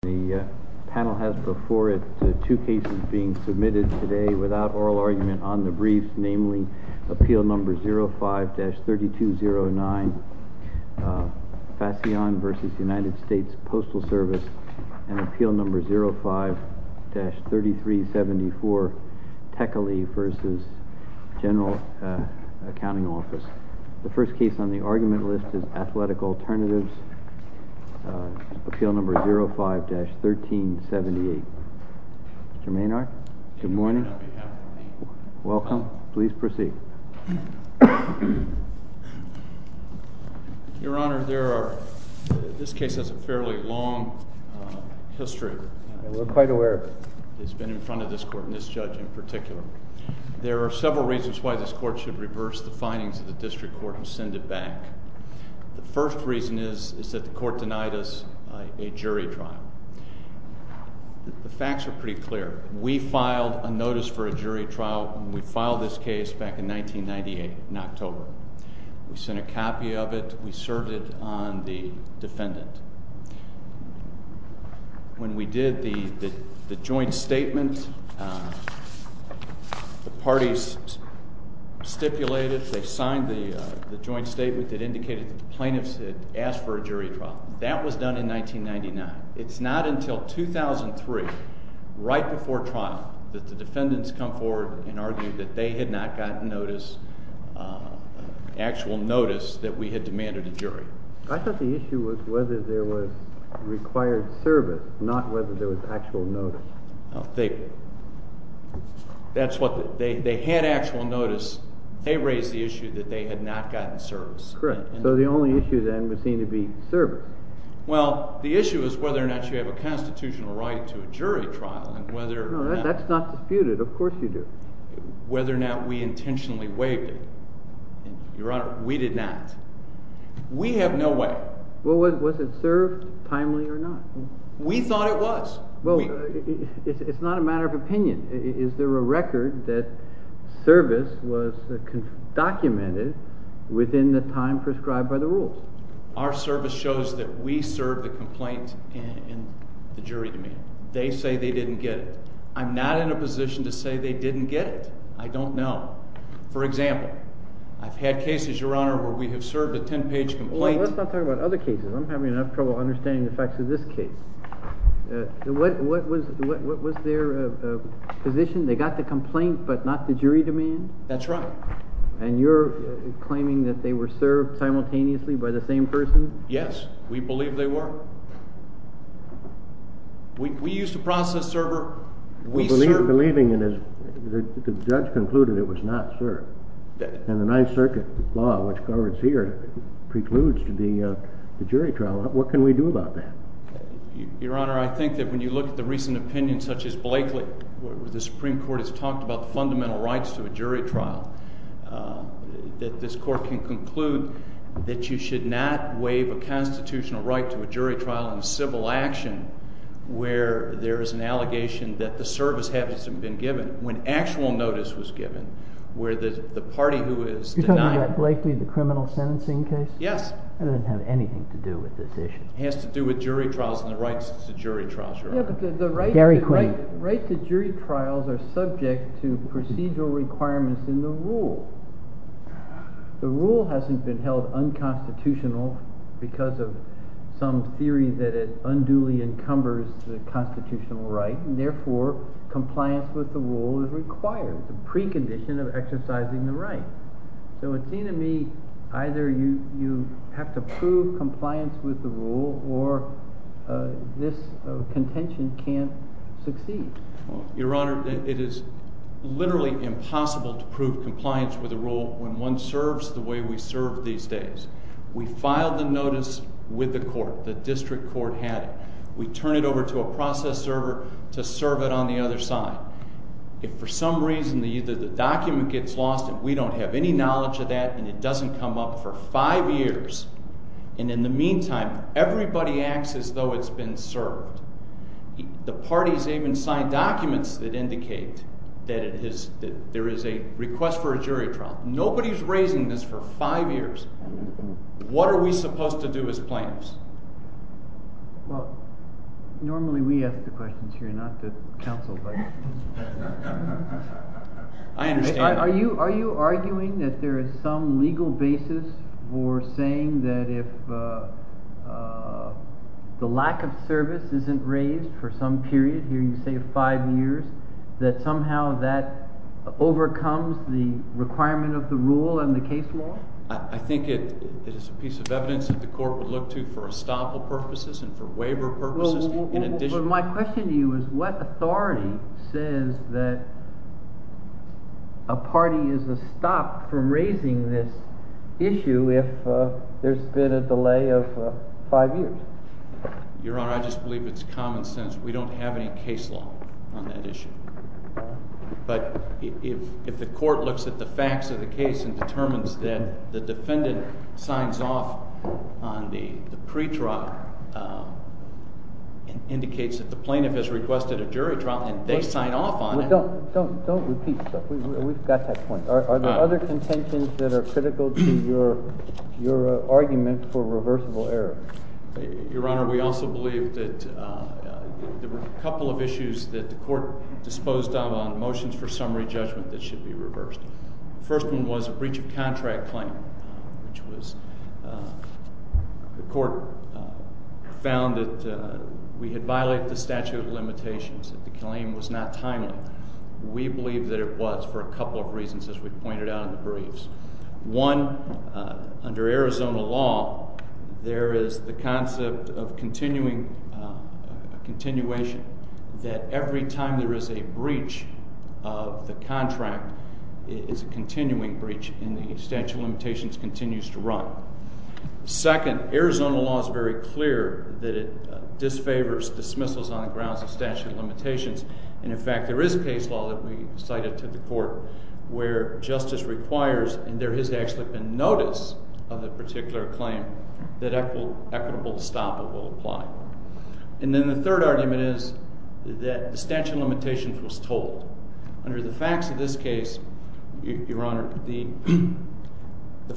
The panel has before it two cases being submitted today without oral argument on the briefs, namely Appeal No. 05-3209, Fascion v. United States Postal Service, and Appeal No. 05-3374, Techily v. General Accounting Office. The first case on the argument list is Athletic Alternatives, Appeal No. 05-1378. Mr. Maynard, good morning. Welcome. Please proceed. Your Honor, this case has a fairly long history. We're quite aware of it. It's been in front of this court and this judge in particular. There are several reasons why this court should reverse the court denied us a jury trial. The facts are pretty clear. We filed a notice for a jury trial. We filed this case back in 1998 in October. We sent a copy of it. We served it on the defendant. When we did the joint statement, the parties stipulated, they signed the joint statement that indicated the plaintiffs had asked for a jury trial. That was done in 1999. It's not until 2003, right before trial, that the defendants come forward and argue that they had not gotten actual notice that we had demanded a jury. I thought the issue was whether there was required service, not whether there was actual notice. They had actual notice. They raised the issue that they had not gotten service. Correct. So the only issue then would seem to be service. Well, the issue is whether or not you have a constitutional right to a jury trial. No, that's not disputed. Of course you do. Whether or not we intentionally waived it. Your Honor, we did not. We have no way. Well, was it served timely or not? We thought it was. Well, it's not a matter of opinion. Is there a record that service was documented within the time prescribed by the rules? Our service shows that we served the complaint in the jury domain. They say they didn't get it. I'm not in a position to say they didn't get it. I don't know. For example, I've had cases, Your Honor, where we have served a 10-page complaint. Well, let's not talk about other cases. I'm having enough trouble understanding the facts of this case. What was their position? They got the complaint but not the jury domain? That's right. And you're claiming that they were served simultaneously by the same person? Yes, we believe they were. We used a process server. Believing it as the judge concluded it was not served. And the Ninth Circuit law, which covers here, precludes the jury trial. What can we do about that? Your Honor, I think that when you look at the recent opinions such as Blakely, where the Supreme Court has talked about the fundamental rights to a jury trial, that this court can conclude that you should not waive a constitutional right to a jury trial in civil action where there is an allegation that the service hasn't been given when actual notice was given, where the party who is denying... You're talking about Blakely, the criminal sentencing case? Yes. That doesn't have anything to do with this issue. It has to do with jury trials and the rights to jury trials, Your Honor. Gary Quay. The right to jury trials are subject to procedural requirements in the rule. The rule hasn't been held unconstitutional because of some theory that it unduly encumbers the constitutional right, and therefore, compliance with the rule is required. The precondition of exercising the right. So it seems to me either you have to prove compliance with the rule or this contention can't succeed. Your Honor, it is literally impossible to prove compliance with the rule when one serves the way we serve these days. We filed the notice with the court. The district court had it. We turn it over to a process server to serve it on the other side. If for some reason, either the document gets lost, and we don't have any knowledge of that, and it doesn't come up for five years, and in the meantime, everybody acts as though it's been served. The parties even sign documents that indicate that there is a request for a jury trial. Nobody's raising this for five years. What are we supposed to do as plaintiffs? Well, normally, we ask the questions here, not the counsel. I understand. Are you arguing that there is some legal basis for saying that if the lack of service isn't raised for some period, here you say five years, that somehow that overcomes the requirement of the rule and the case law? I think it is a piece of evidence that the court would look to for estoppel purposes and for waiver purposes in addition. My question to you is what authority says that a party is a stop from raising this issue if there's been a delay of five years? Your Honor, I just believe it's common sense. We don't have any case law on that issue. But if the court looks at the facts of the case and determines that the defendant signs off on the pre-trial and indicates that the plaintiff has requested a jury trial and they sign off on it. Don't repeat stuff. We've got that point. Are there other contentions that are critical to your argument for reversible error? Your Honor, we also believe that there were a couple of issues that the court disposed of on motions for summary judgment that should be reversed. The first one was a breach of contract claim. The court found that we had violated the statute of limitations, that the claim was not timely. We believe that it was for a couple of reasons, as we pointed out in the briefs. One, under Arizona law, there is the concept of continuation, that every time there is a breach of the contract, it is a continuing breach and the statute of limitations continues to run. Second, Arizona law is very clear that it disfavors dismissals on the grounds of statute of limitations. In fact, there is case law that we cited to the court where justice requires, and there has actually been notice of the particular claim, that equitable estoppel will apply. Then the third argument is that the statute of limitations was told. Under the facts of this case, Your Honor, the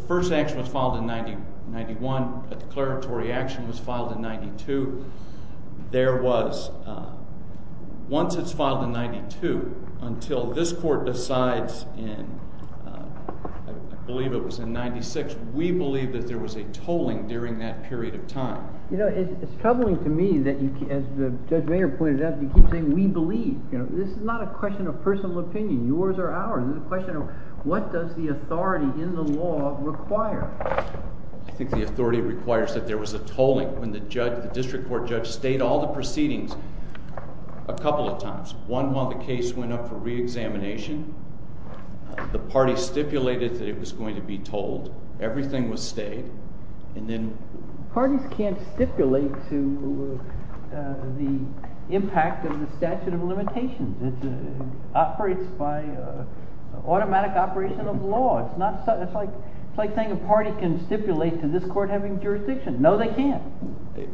first action was filed in 1991, a declaratory action was filed in 1992. Once it's filed in 1992, until this court decides, I believe it was in 1996, we believe that there was a tolling during that period of time. It's troubling to me that, as Judge Mayer pointed out, you keep saying, we believe. This is not a question of personal opinion. Yours or ours. This is a question of what does the authority in the law require? I think the authority requires that there was a tolling when the district court judge stayed all the proceedings a couple of times. One, while the case went up for re-examination, the party stipulated that it was going to be tolled. Everything was stayed. Parties can't stipulate to the impact of the statute of limitations. It operates by automatic operation of law. It's like saying a party can stipulate to this court having jurisdiction. No, they can't.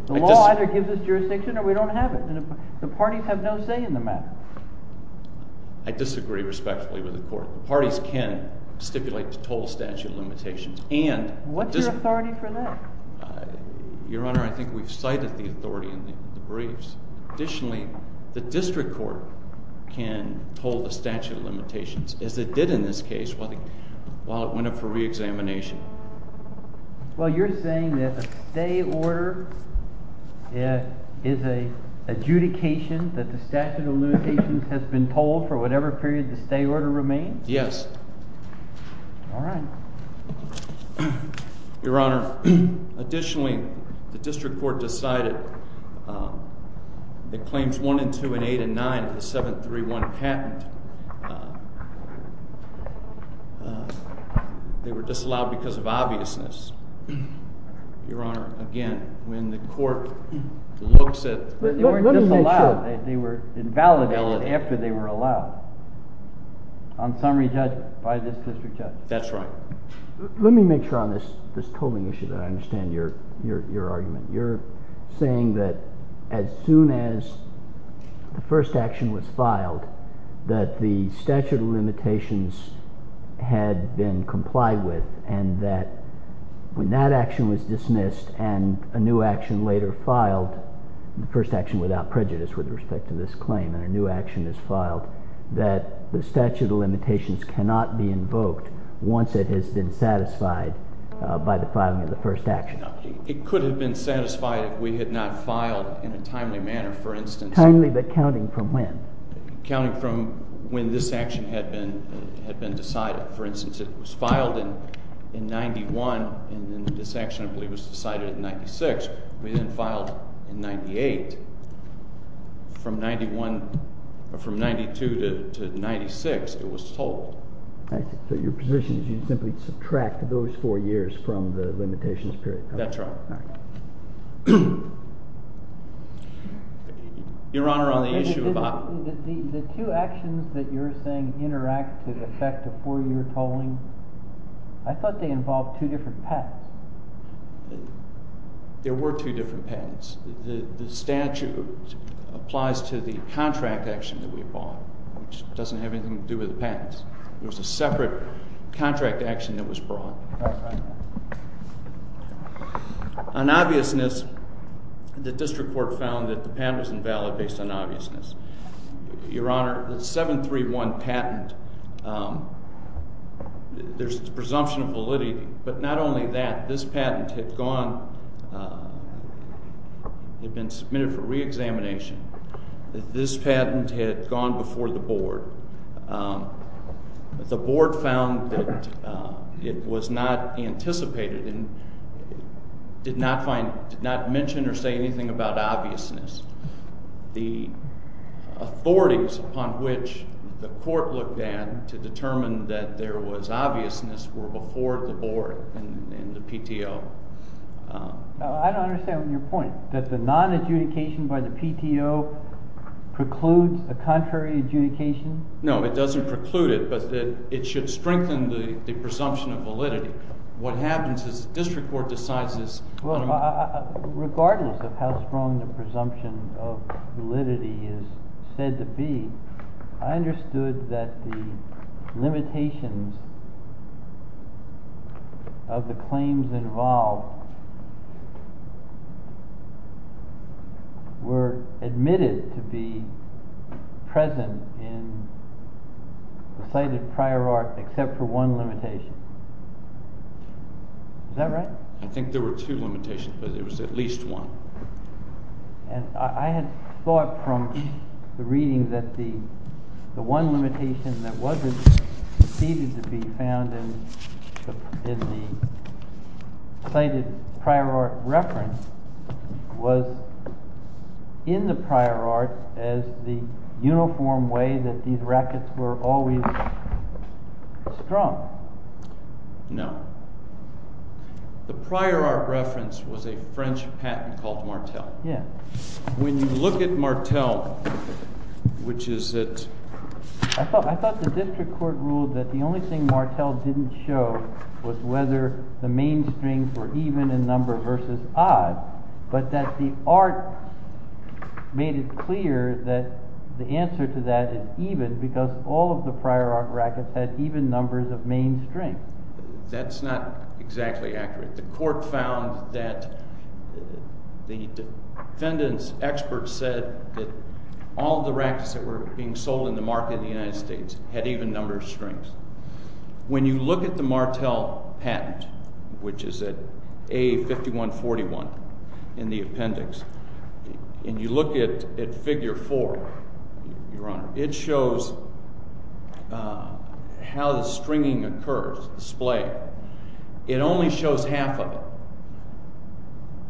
The law either gives us jurisdiction or we don't have it. The parties have no say in the matter. I disagree respectfully with the court. Parties can stipulate to toll statute of limitations and— What's your authority for that? Your Honor, I think we've cited the authority in the briefs. Additionally, the district court can toll the statute of limitations, as it did in this case, while it went up for re-examination. Well, you're saying that a stay order is an adjudication that the statute of limitations has been tolled for whatever period the stay order remains? Yes. All right. Your Honor, additionally, the district court decided that claims one and two and eight and nine of the 731 patent, they were disallowed because of obviousness. Your Honor, again, when the court looks at— They weren't disallowed. They were invalidated after they were allowed on summary judgment by this district judge. That's right. Let me make sure on this tolling issue that I understand your argument. You're saying that as soon as the first action was filed, that the statute of limitations had been complied with, and that when that action was dismissed and a new action later filed, the first action without prejudice with respect to this claim, and a new action is filed, that the statute of limitations cannot be invoked once it has been satisfied by the filing of the first action? It could have been satisfied if we had not filed in a timely manner, for instance— Timely, but counting from when? Counting from when this action had been decided. For instance, it was filed in 91, and then this action, I believe, was decided in 96. We then filed in 98. From 92 to 96, it was tolled. So your position is you simply subtract those four years from the limitations period? That's right. Your Honor, on the issue of— The two actions that you're saying interact to the effect of four-year tolling, I thought they involved two different patents. There were two different patents. The statute applies to the contract action that we filed, which doesn't have anything to do with the patents. It was a separate contract action that was brought. On obviousness, the district court found that the patent was invalid based on obviousness. Your Honor, the 731 patent, there's a presumption of validity, but not only that, this patent had gone— had been submitted for reexamination. This patent had gone before the board. The board found that it was not anticipated and did not find— did not mention or say anything about obviousness. The authorities upon which the court looked at to determine that there was obviousness were before the board and the PTO. I don't understand your point. Does the non-adjudication by the PTO preclude a contrary adjudication? No, it doesn't preclude it, but it should strengthen the presumption of validity. What happens is the district court decides this— Regardless of how strong the presumption of validity is said to be, I understood that the limitations of the claims involved were admitted to be present in the cited prior art except for one limitation. Is that right? I think there were two limitations, but there was at least one. And I had thought from the reading that the one limitation that wasn't conceded to be found in the cited prior art reference was in the prior art as the uniform way that these rackets were always strung. No. The prior art reference was a French patent called Martel. Yeah. When you look at Martel, which is at— The court ruled that the only thing Martel didn't show was whether the main strings were even in number versus odd, but that the art made it clear that the answer to that is even because all of the prior art rackets had even numbers of main strings. That's not exactly accurate. The court found that the defendant's expert said that all the rackets that were being sold in the market in the United States had even number of strings. When you look at the Martel patent, which is at A5141 in the appendix, and you look at figure four, Your Honor, it shows how the stringing occurs, display. It only shows half of it.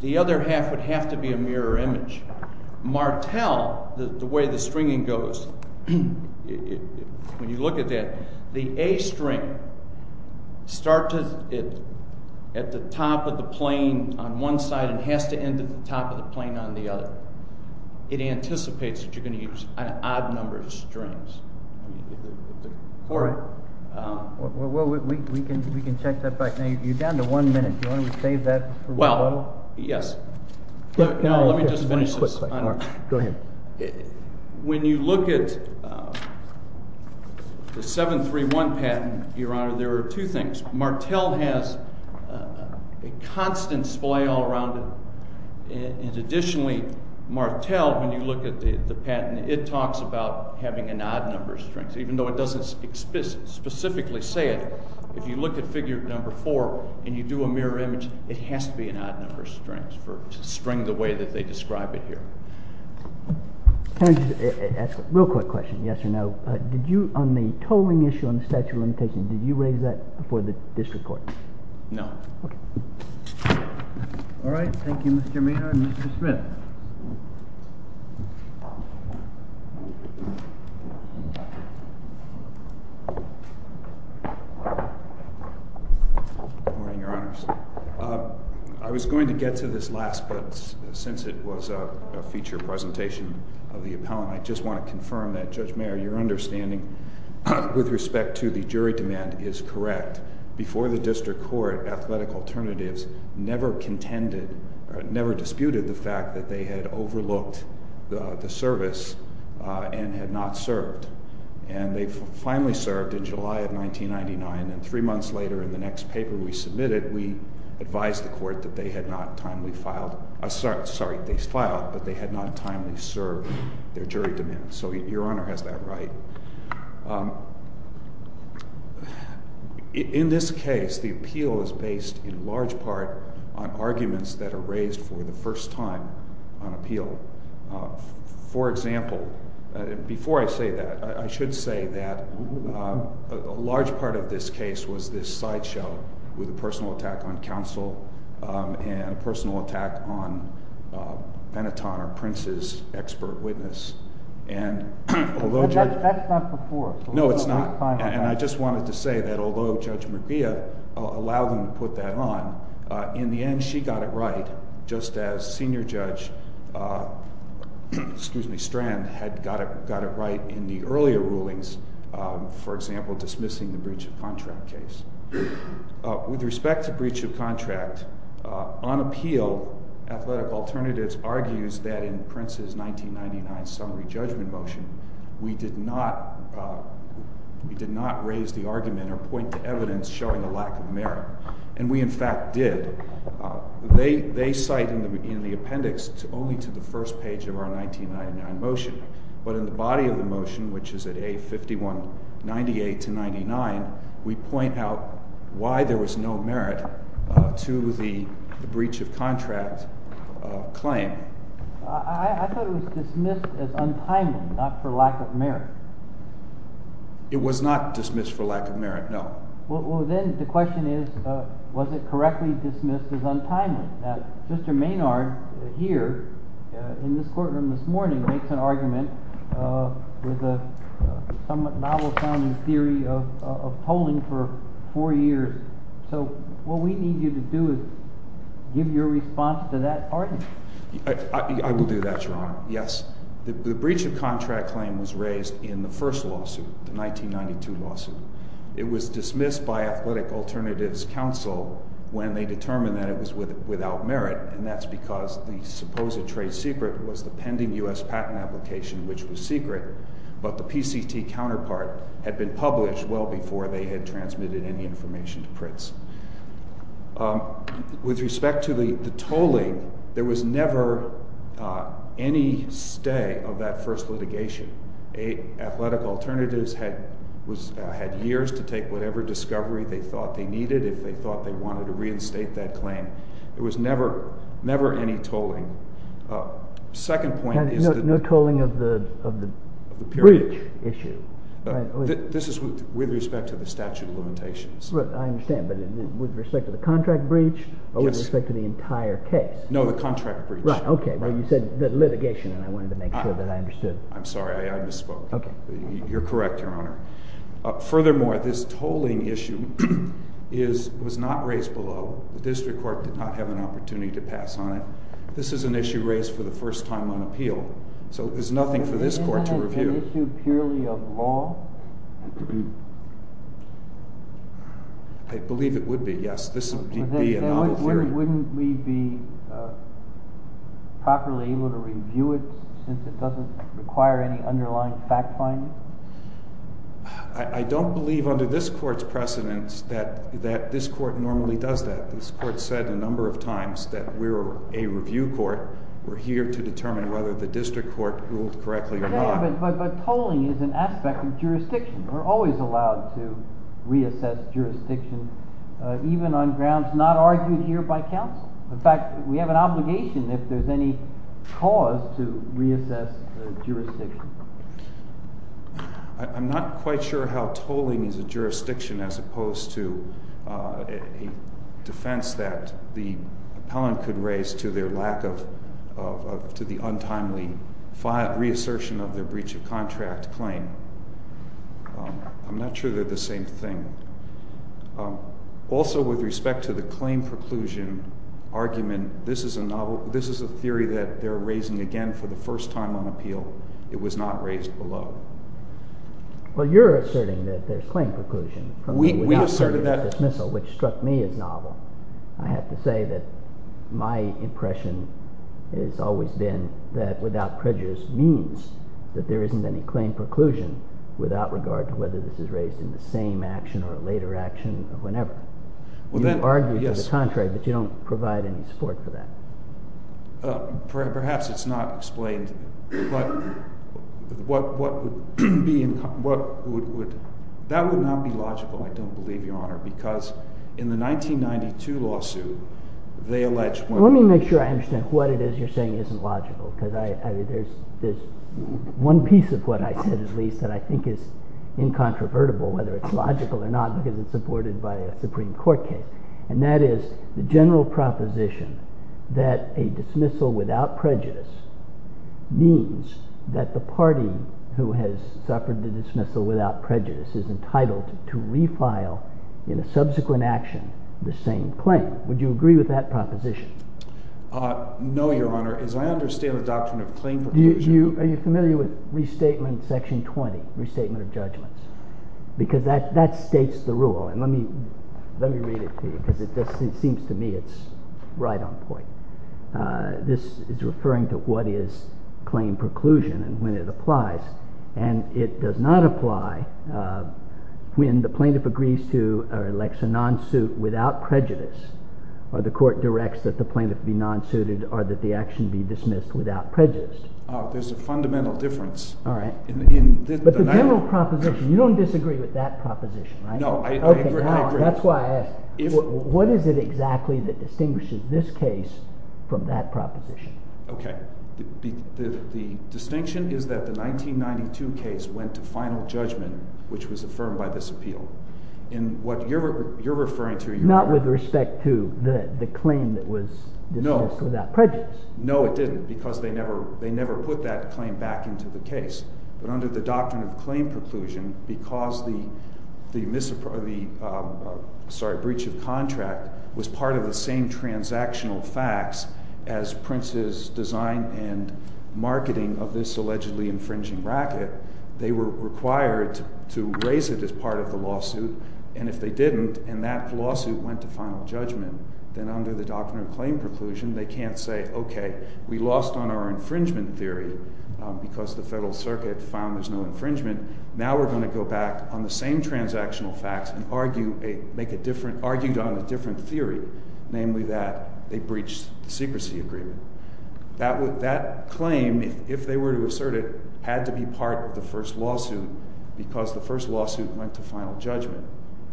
The other half would have to be a mirror image. Martel, the way the stringing goes, when you look at that, the A string starts at the top of the plane on one side and has to end at the top of the plane on the other. It anticipates that you're going to use an odd number of strings. All right. Well, we can check that back. Now, you're down to one minute. Do you want to save that for— Well, yes. Now, let me just finish this. When you look at the 731 patent, Your Honor, there are two things. Martel has a constant display all around it. And additionally, Martel, when you look at the patent, it talks about having an odd number of strings, even though it doesn't specifically say it. If you look at figure number four and you do a mirror image, it has to be an odd number of strings, string the way that they describe it here. Can I just ask a real quick question, yes or no? Did you, on the tolling issue on the statute of limitations, did you raise that before the district court? No. All right. Thank you, Mr. Maynard. Mr. Smith. Good morning, Your Honors. I was going to get to this last, but since it was a feature presentation of the appellant, I just want to confirm that, Judge Mayer, your understanding with respect to the jury demand is correct. Before the district court, athletic alternatives never disputed the fact that they had overlooked the service and had not served. And they finally served in July of 1999. And three months later, in the next paper we submitted, we advised the court that they had not timely filed, sorry, they filed, but they had not timely served their jury demand. So your Honor has that right. In this case, the appeal is based in large part on arguments that are raised for the first time on appeal. For example, before I say that, I should say that a large part of this case was this sideshow with a personal attack on counsel and a personal attack on Benetton or Prince's expert witness. And although Judge- That's not before. No, it's not. And I just wanted to say that although Judge McBeeh allowed them to put that on, in the end, she got it right, just as Senior Judge Strand had got it right in the earlier rulings, for example, dismissing the breach of contract case. With respect to breach of contract, on appeal, Athletic Alternatives argues that in Prince's 1999 summary judgment motion, we did not raise the argument or point to evidence showing a lack of merit. And we, in fact, did. They cite in the appendix only to the first page of our 1999 motion. But in the body of the motion, which is at A5198-99, we point out why there was no merit to the breach of contract claim. I thought it was dismissed as untimely, not for lack of merit. It was not dismissed for lack of merit, no. Well, then the question is, was it correctly dismissed as untimely? Now, Mr. Maynard here in this courtroom this morning makes an argument with a somewhat novel-sounding theory of polling for four years. So what we need you to do is give your response to that argument. I will do that, Your Honor. Yes. The breach of contract claim was raised in the first lawsuit, the 1992 lawsuit. It was dismissed by Athletic Alternatives Council when they determined that it was without merit. And that's because the supposed trade secret was the pending U.S. patent application, which was secret. But the PCT counterpart had been published well before they had transmitted any information to Prince. With respect to the tolling, there was never any stay of that first litigation. Athletic Alternatives had years to take whatever discovery they thought they needed if they thought they wanted to reinstate that claim. There was never any tolling. Second point is that— Breach issue. This is with respect to the statute of limitations. I understand. But with respect to the contract breach or with respect to the entire case? No, the contract breach. Right, OK. You said the litigation, and I wanted to make sure that I understood. I'm sorry. I misspoke. You're correct, Your Honor. Furthermore, this tolling issue was not raised below. The district court did not have an opportunity to pass on it. This is an issue raised for the first time on appeal. So there's nothing for this court to review. Isn't that an issue purely of law? I believe it would be, yes. This would be a novel theory. Wouldn't we be properly able to review it since it doesn't require any underlying fact-finding? I don't believe under this court's precedence that this court normally does that. This court said a number of times that we're a review court. We're here to determine whether the district court ruled correctly or not. Yeah, but tolling is an aspect of jurisdiction. We're always allowed to reassess jurisdiction, even on grounds not argued here by counsel. In fact, we have an obligation if there's any cause to reassess jurisdiction. I'm not quite sure how tolling is a jurisdiction as opposed to a defense that the appellant could raise to their lack of, to the untimely reassertion of their breach of contract claim. I'm not sure they're the same thing. Also, with respect to the claim preclusion argument, this is a novel, this is a theory that they're raising again for the first time on appeal. It was not raised below. Well, you're asserting that there's claim preclusion. We asserted that dismissal, which struck me as novel. I have to say that my impression has always been that without prejudice means that there isn't any claim preclusion without regard to whether this is raised in the same action or a later action or whenever. Well, then, yes. You argue to the contrary, but you don't provide any support for that. Perhaps it's not explained. That would not be logical, I don't believe, Your Honor, because in the 1992 lawsuit, they allege one of the two. Let me make sure I understand what it is you're saying isn't logical, because there's one piece of what I said, at least, that I think is incontrovertible, whether it's logical or not, because it's supported by a Supreme Court case. And that is the general proposition that a dismissal without prejudice means that the party who has suffered the dismissal without prejudice is entitled to refile in a subsequent action the same claim. Would you agree with that proposition? No, Your Honor. As I understand the doctrine of claim preclusion. Are you familiar with restatement section 20, restatement of judgments? Because that states the rule. And let me read it to you, because it seems to me it's right on point. This is referring to what is claim preclusion and when it applies. And it does not apply when the plaintiff agrees to or elects a non-suit without prejudice, or the court directs that the plaintiff be non-suited or that the action be dismissed without prejudice. There's a fundamental difference. But the general proposition, you don't disagree with that proposition, right? No, I agree. That's why I asked, what is it exactly that distinguishes this case from that proposition? OK. The distinction is that the 1992 case went to final judgment, which was affirmed by this appeal. And what you're referring to, Your Honor. Not with respect to the claim that was dismissed without prejudice. No, it didn't. Because they never put that claim back into the case. But under the doctrine of claim preclusion, because the breach of contract was part of the same transactional facts as Prince's design and marketing of this allegedly infringing racket, they were required to raise it as part of the lawsuit. And if they didn't, and that lawsuit went to final judgment, then under the doctrine of claim preclusion, they can't say, OK, we lost on our infringement theory because the Federal Circuit found there's no infringement. Now we're going to go back on the same transactional facts and argue on a different theory, namely that they breached the secrecy agreement. That claim, if they were to assert it, had to be part of the first lawsuit because the first lawsuit went to final judgment.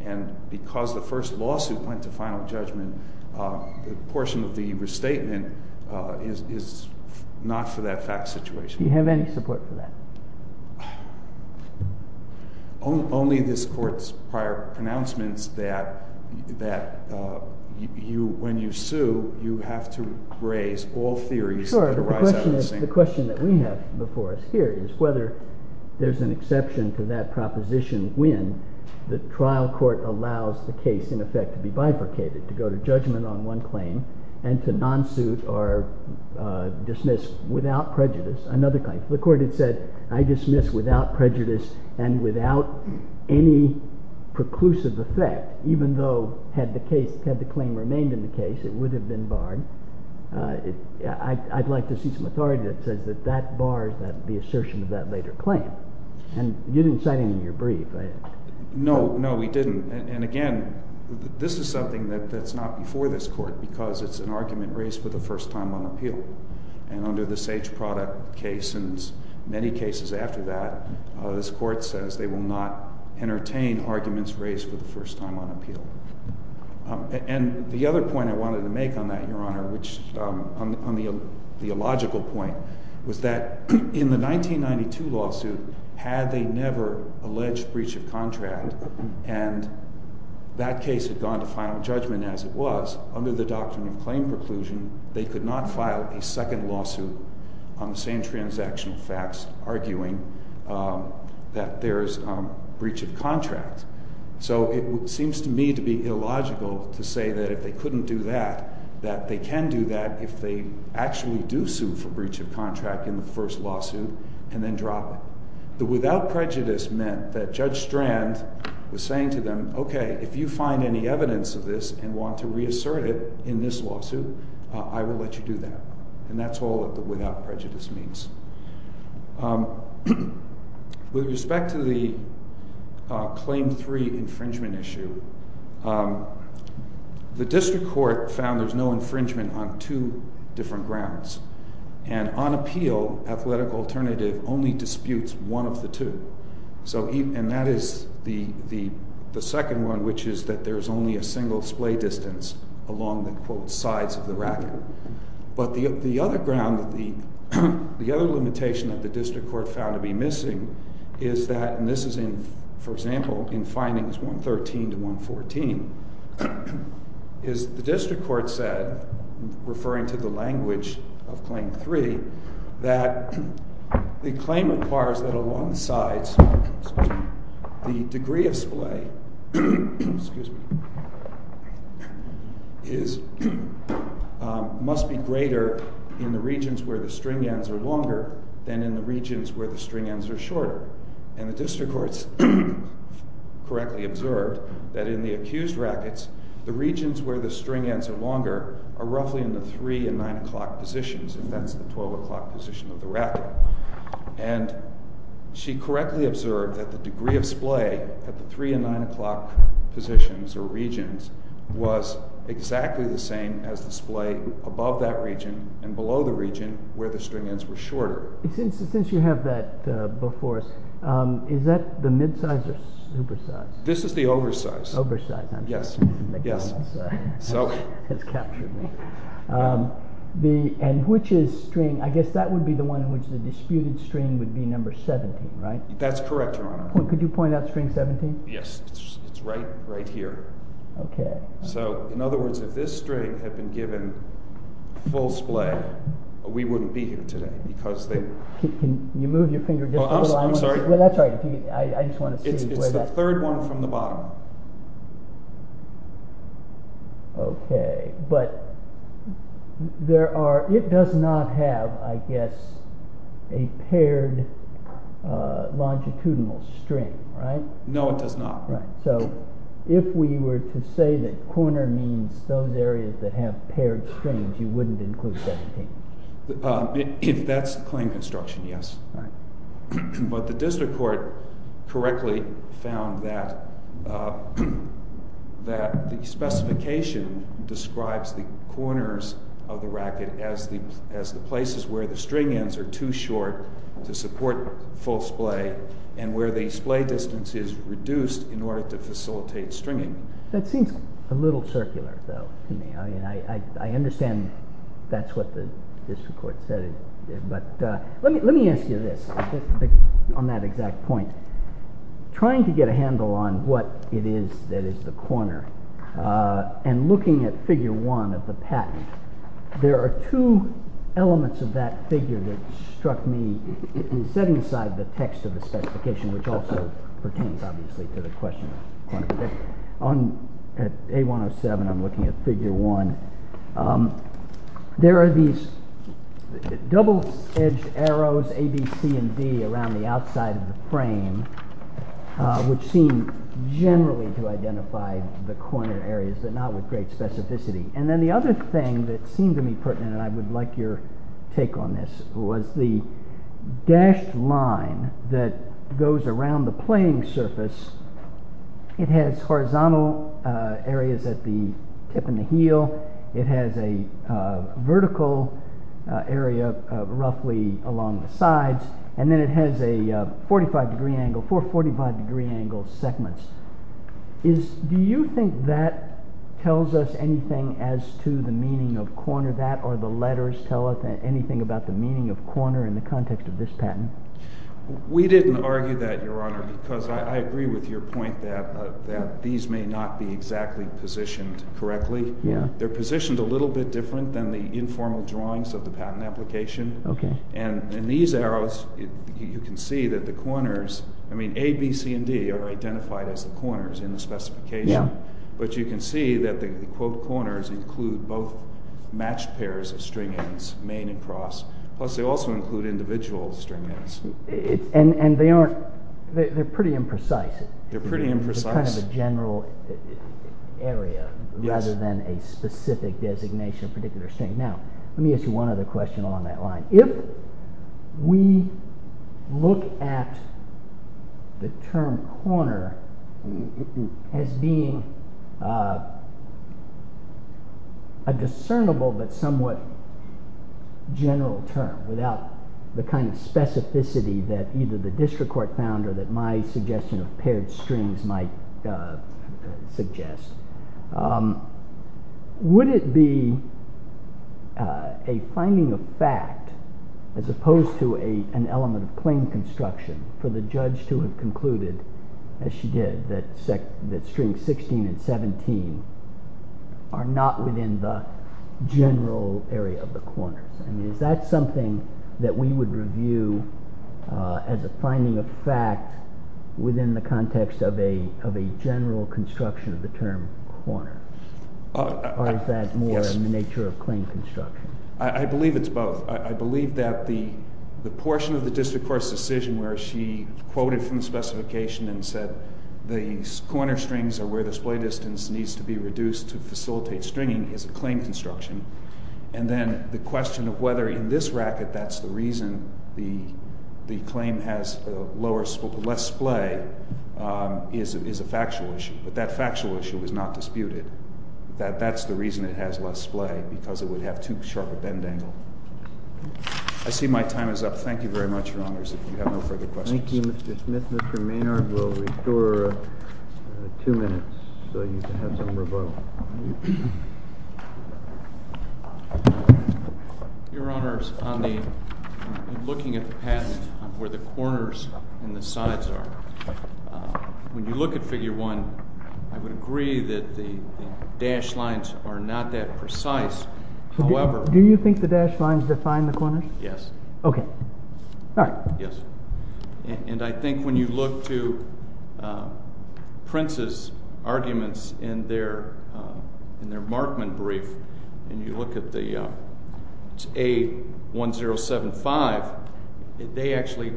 And because the first lawsuit went to final judgment, the portion of the restatement is not for that fact situation. Do you have any support for that? Well, only this court's prior pronouncements that when you sue, you have to raise all theories that arise out of the same. The question that we have before us here is whether there's an exception to that proposition when the trial court allows the case, in effect, to be bifurcated, to go to judgment on one claim and to non-suit or dismiss without prejudice another claim. The court had said, I dismiss without prejudice and without any preclusive effect, even though had the claim remained in the case, it would have been barred. I'd like to see some authority that says that that bars the assertion of that later claim. And you didn't cite any in your brief. No, no, we didn't. And again, this is something that's not before this court because it's an argument raised for the first time on appeal. And under the Sage Product case and many cases after that, this court says they will not entertain arguments raised for the first time on appeal. And the other point I wanted to make on that, Your Honor, which on the illogical point, was that in the 1992 lawsuit, had they never alleged breach of contract and that case had gone to final judgment as it was, under the doctrine of claim preclusion, they could not file a second lawsuit on the same transactional facts, arguing that there's breach of contract. So it seems to me to be illogical to say that if they couldn't do that, that they can do that if they actually do sue for breach of contract in the first lawsuit and then drop it. The without prejudice meant that Judge Strand was saying to them, OK, if you find any evidence of this and want to reassert it in this lawsuit, I will let you do that. And that's all that the without prejudice means. With respect to the Claim 3 infringement issue, the district court found there's no infringement on two different grounds. And on appeal, Athletic Alternative only disputes one of the two. So and that is the second one, which is that there is only a single splay distance along the, quote, sides of the racket. But the other limitation that the district court found to be missing is that, and this is, for example, in findings 113 to 114, is the district court said, referring to the language of Claim 3, that the claim requires that alongside the degree of splay excuse me, is, must be greater in the regions where the string ends are longer than in the regions where the string ends are shorter. And the district courts correctly observed that in the accused rackets, the regions where the string ends are longer are roughly in the 3 and 9 o'clock positions. And that's the 12 o'clock position of the racket. And she correctly observed that the degree of splay at the 3 and 9 o'clock positions, or regions, was exactly the same as the splay above that region and below the region where the string ends were shorter. Since you have that before us, is that the mid-size or super-size? This is the oversize. Oversize, I'm trying to make that up. Yes. Sorry. So. It's captured me. And which is string, I guess that would be the one in which the disputed string would be number 17, right? That's correct, Your Honor. Could you point out string 17? Yes. It's right here. OK. So, in other words, if this string had been given full splay, we wouldn't be here today. Because they would. Can you move your finger just a little? I'm sorry. That's all right. I just want to see where that's. It's the third one from the bottom. OK. But there are, it does not have, I guess, a paired longitudinal string, right? No, it does not. So, if we were to say that corner means those areas that have paired strings, you wouldn't include 17? That's claim construction, yes. But the district court correctly found that the specification describes the corners of the racket as the places where the string ends are too short to support full splay, and where the splay distance is reduced in order to facilitate stringing. That seems a little circular, though, to me. I understand that's what the district court said. But let me ask you this, on that exact point. Trying to get a handle on what it is that is the corner, and looking at figure one of the patent, there are two elements of that figure that struck me in setting aside the text of the specification, which also pertains, obviously, to the question. At A107, I'm looking at figure one. There are these double-edged arrows, A, B, C, and D, around the outside of the frame, which seem generally to identify the corner areas, but not with great specificity. And then the other thing that seemed to me pertinent, and I would like your take on this, was the dashed line that goes around the playing surface. It has horizontal areas at the tip and the heel. It has a vertical area roughly along the sides. And then it has a 45-degree angle, four 45-degree angle segments. Do you think that tells us anything as to the meaning of corner that, or the letters tell us anything about the meaning of corner in the context of this patent? We didn't argue that, Your Honor, because I agree with your point that these may not be exactly positioned correctly. They're positioned a little bit different than the informal drawings of the patent application. And in these arrows, you can see that the corners, A, B, C, and D, are identified as the corners in the specification. But you can see that the quote corners include both matched pairs of string ends, main and cross. Plus, they also include individual string ends. And they're pretty imprecise. They're pretty imprecise. It's kind of a general area rather than a specific designation of a particular string. Now, let me ask you one other question along that line. If we look at the term corner as being a discernible but somewhat general term without the kind of specificity that either the district court found or that my suggestion of paired strings might suggest, would it be a finding of fact, as opposed to an element of plain construction, for the judge to have concluded, as she did, that string 16 and 17 are not within the general area of the corners? I mean, is that something that we would review as a finding of fact within the context of a general construction of the term corner? Or is that more in the nature of plain construction? I believe it's both. I believe that the portion of the district court's decision where she quoted from the specification and said the corner strings are where the display distance needs to be reduced to facilitate stringing is a claim construction. And then the question of whether in this racket that's the reason the claim has less display is a factual issue. But that factual issue is not disputed, that that's the reason it has less display, because it would have too sharp a bend angle. I see my time is up. Thank you very much, Your Honors, if you have no further questions. Thank you, Mr. Smith. Mr. Maynard will restore two minutes so you can have some rebuttal. Thank you. Your Honors, I'm looking at the patent where the corners and the sides are. When you look at figure one, I would agree that the dash lines are not that precise. However, Do you think the dash lines define the corners? Yes. OK. All right. Yes. And I think when you look to Prince's arguments in their Markman brief, and you look at the A1075, they actually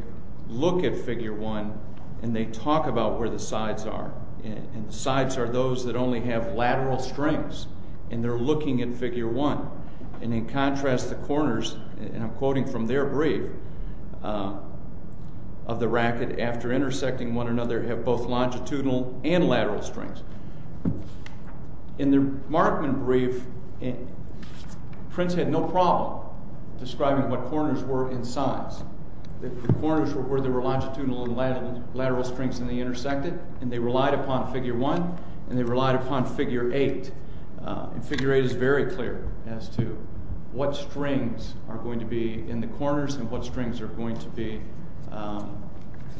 look at figure one, and they talk about where the sides are. And the sides are those that only have lateral strings. And they're looking at figure one. And in contrast, the corners, and I'm quoting from their brief, of the racket after intersecting one another have both longitudinal and lateral strings. In their Markman brief, Prince had no problem describing what corners were in size. The corners were where there were longitudinal and lateral strings, and they intersected. And they relied upon figure one, and they relied upon figure eight. And figure eight is very clear as to what strings are going to be in the corners and what strings are going to be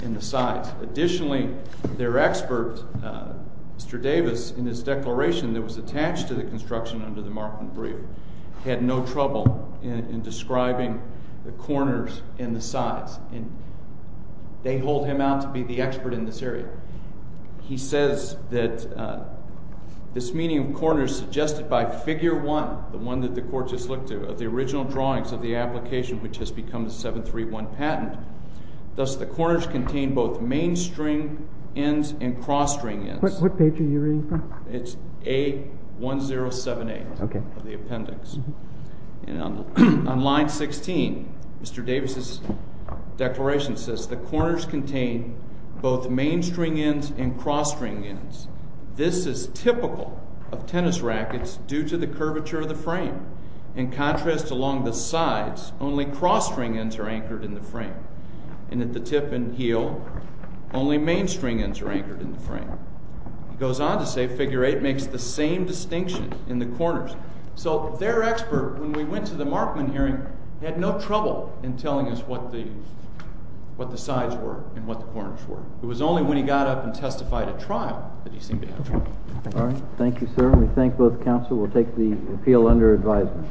in the sides. Additionally, their expert, Mr. Davis, in his declaration that was attached to the construction under the Markman brief, had no trouble in describing the corners and the sides. And they hold him out to be the expert in this area. He says that this meaning of corners suggested by figure one, the one that the court just looked at, of the original drawings of the application which has become the 731 patent, thus the corners contain both mainstream ends and cross-string ends. What page are you reading from? It's A1078 of the appendix. And on line 16, Mr. Davis's declaration says the corners contain both mainstream ends and cross-string ends. This is typical of tennis rackets due to the curvature of the frame. In contrast, along the sides, only cross-string ends are anchored in the frame. And at the tip and heel, only mainstream ends are anchored in the frame. He goes on to say figure eight makes the same distinction in the corners. So their expert, when we went to the Markman hearing, had no trouble in telling us what the sides were and what the corners were. It was only when he got up and testified at trial that he seemed to have trouble. Thank you, sir. We thank both counsel. We'll take the appeal under advisement.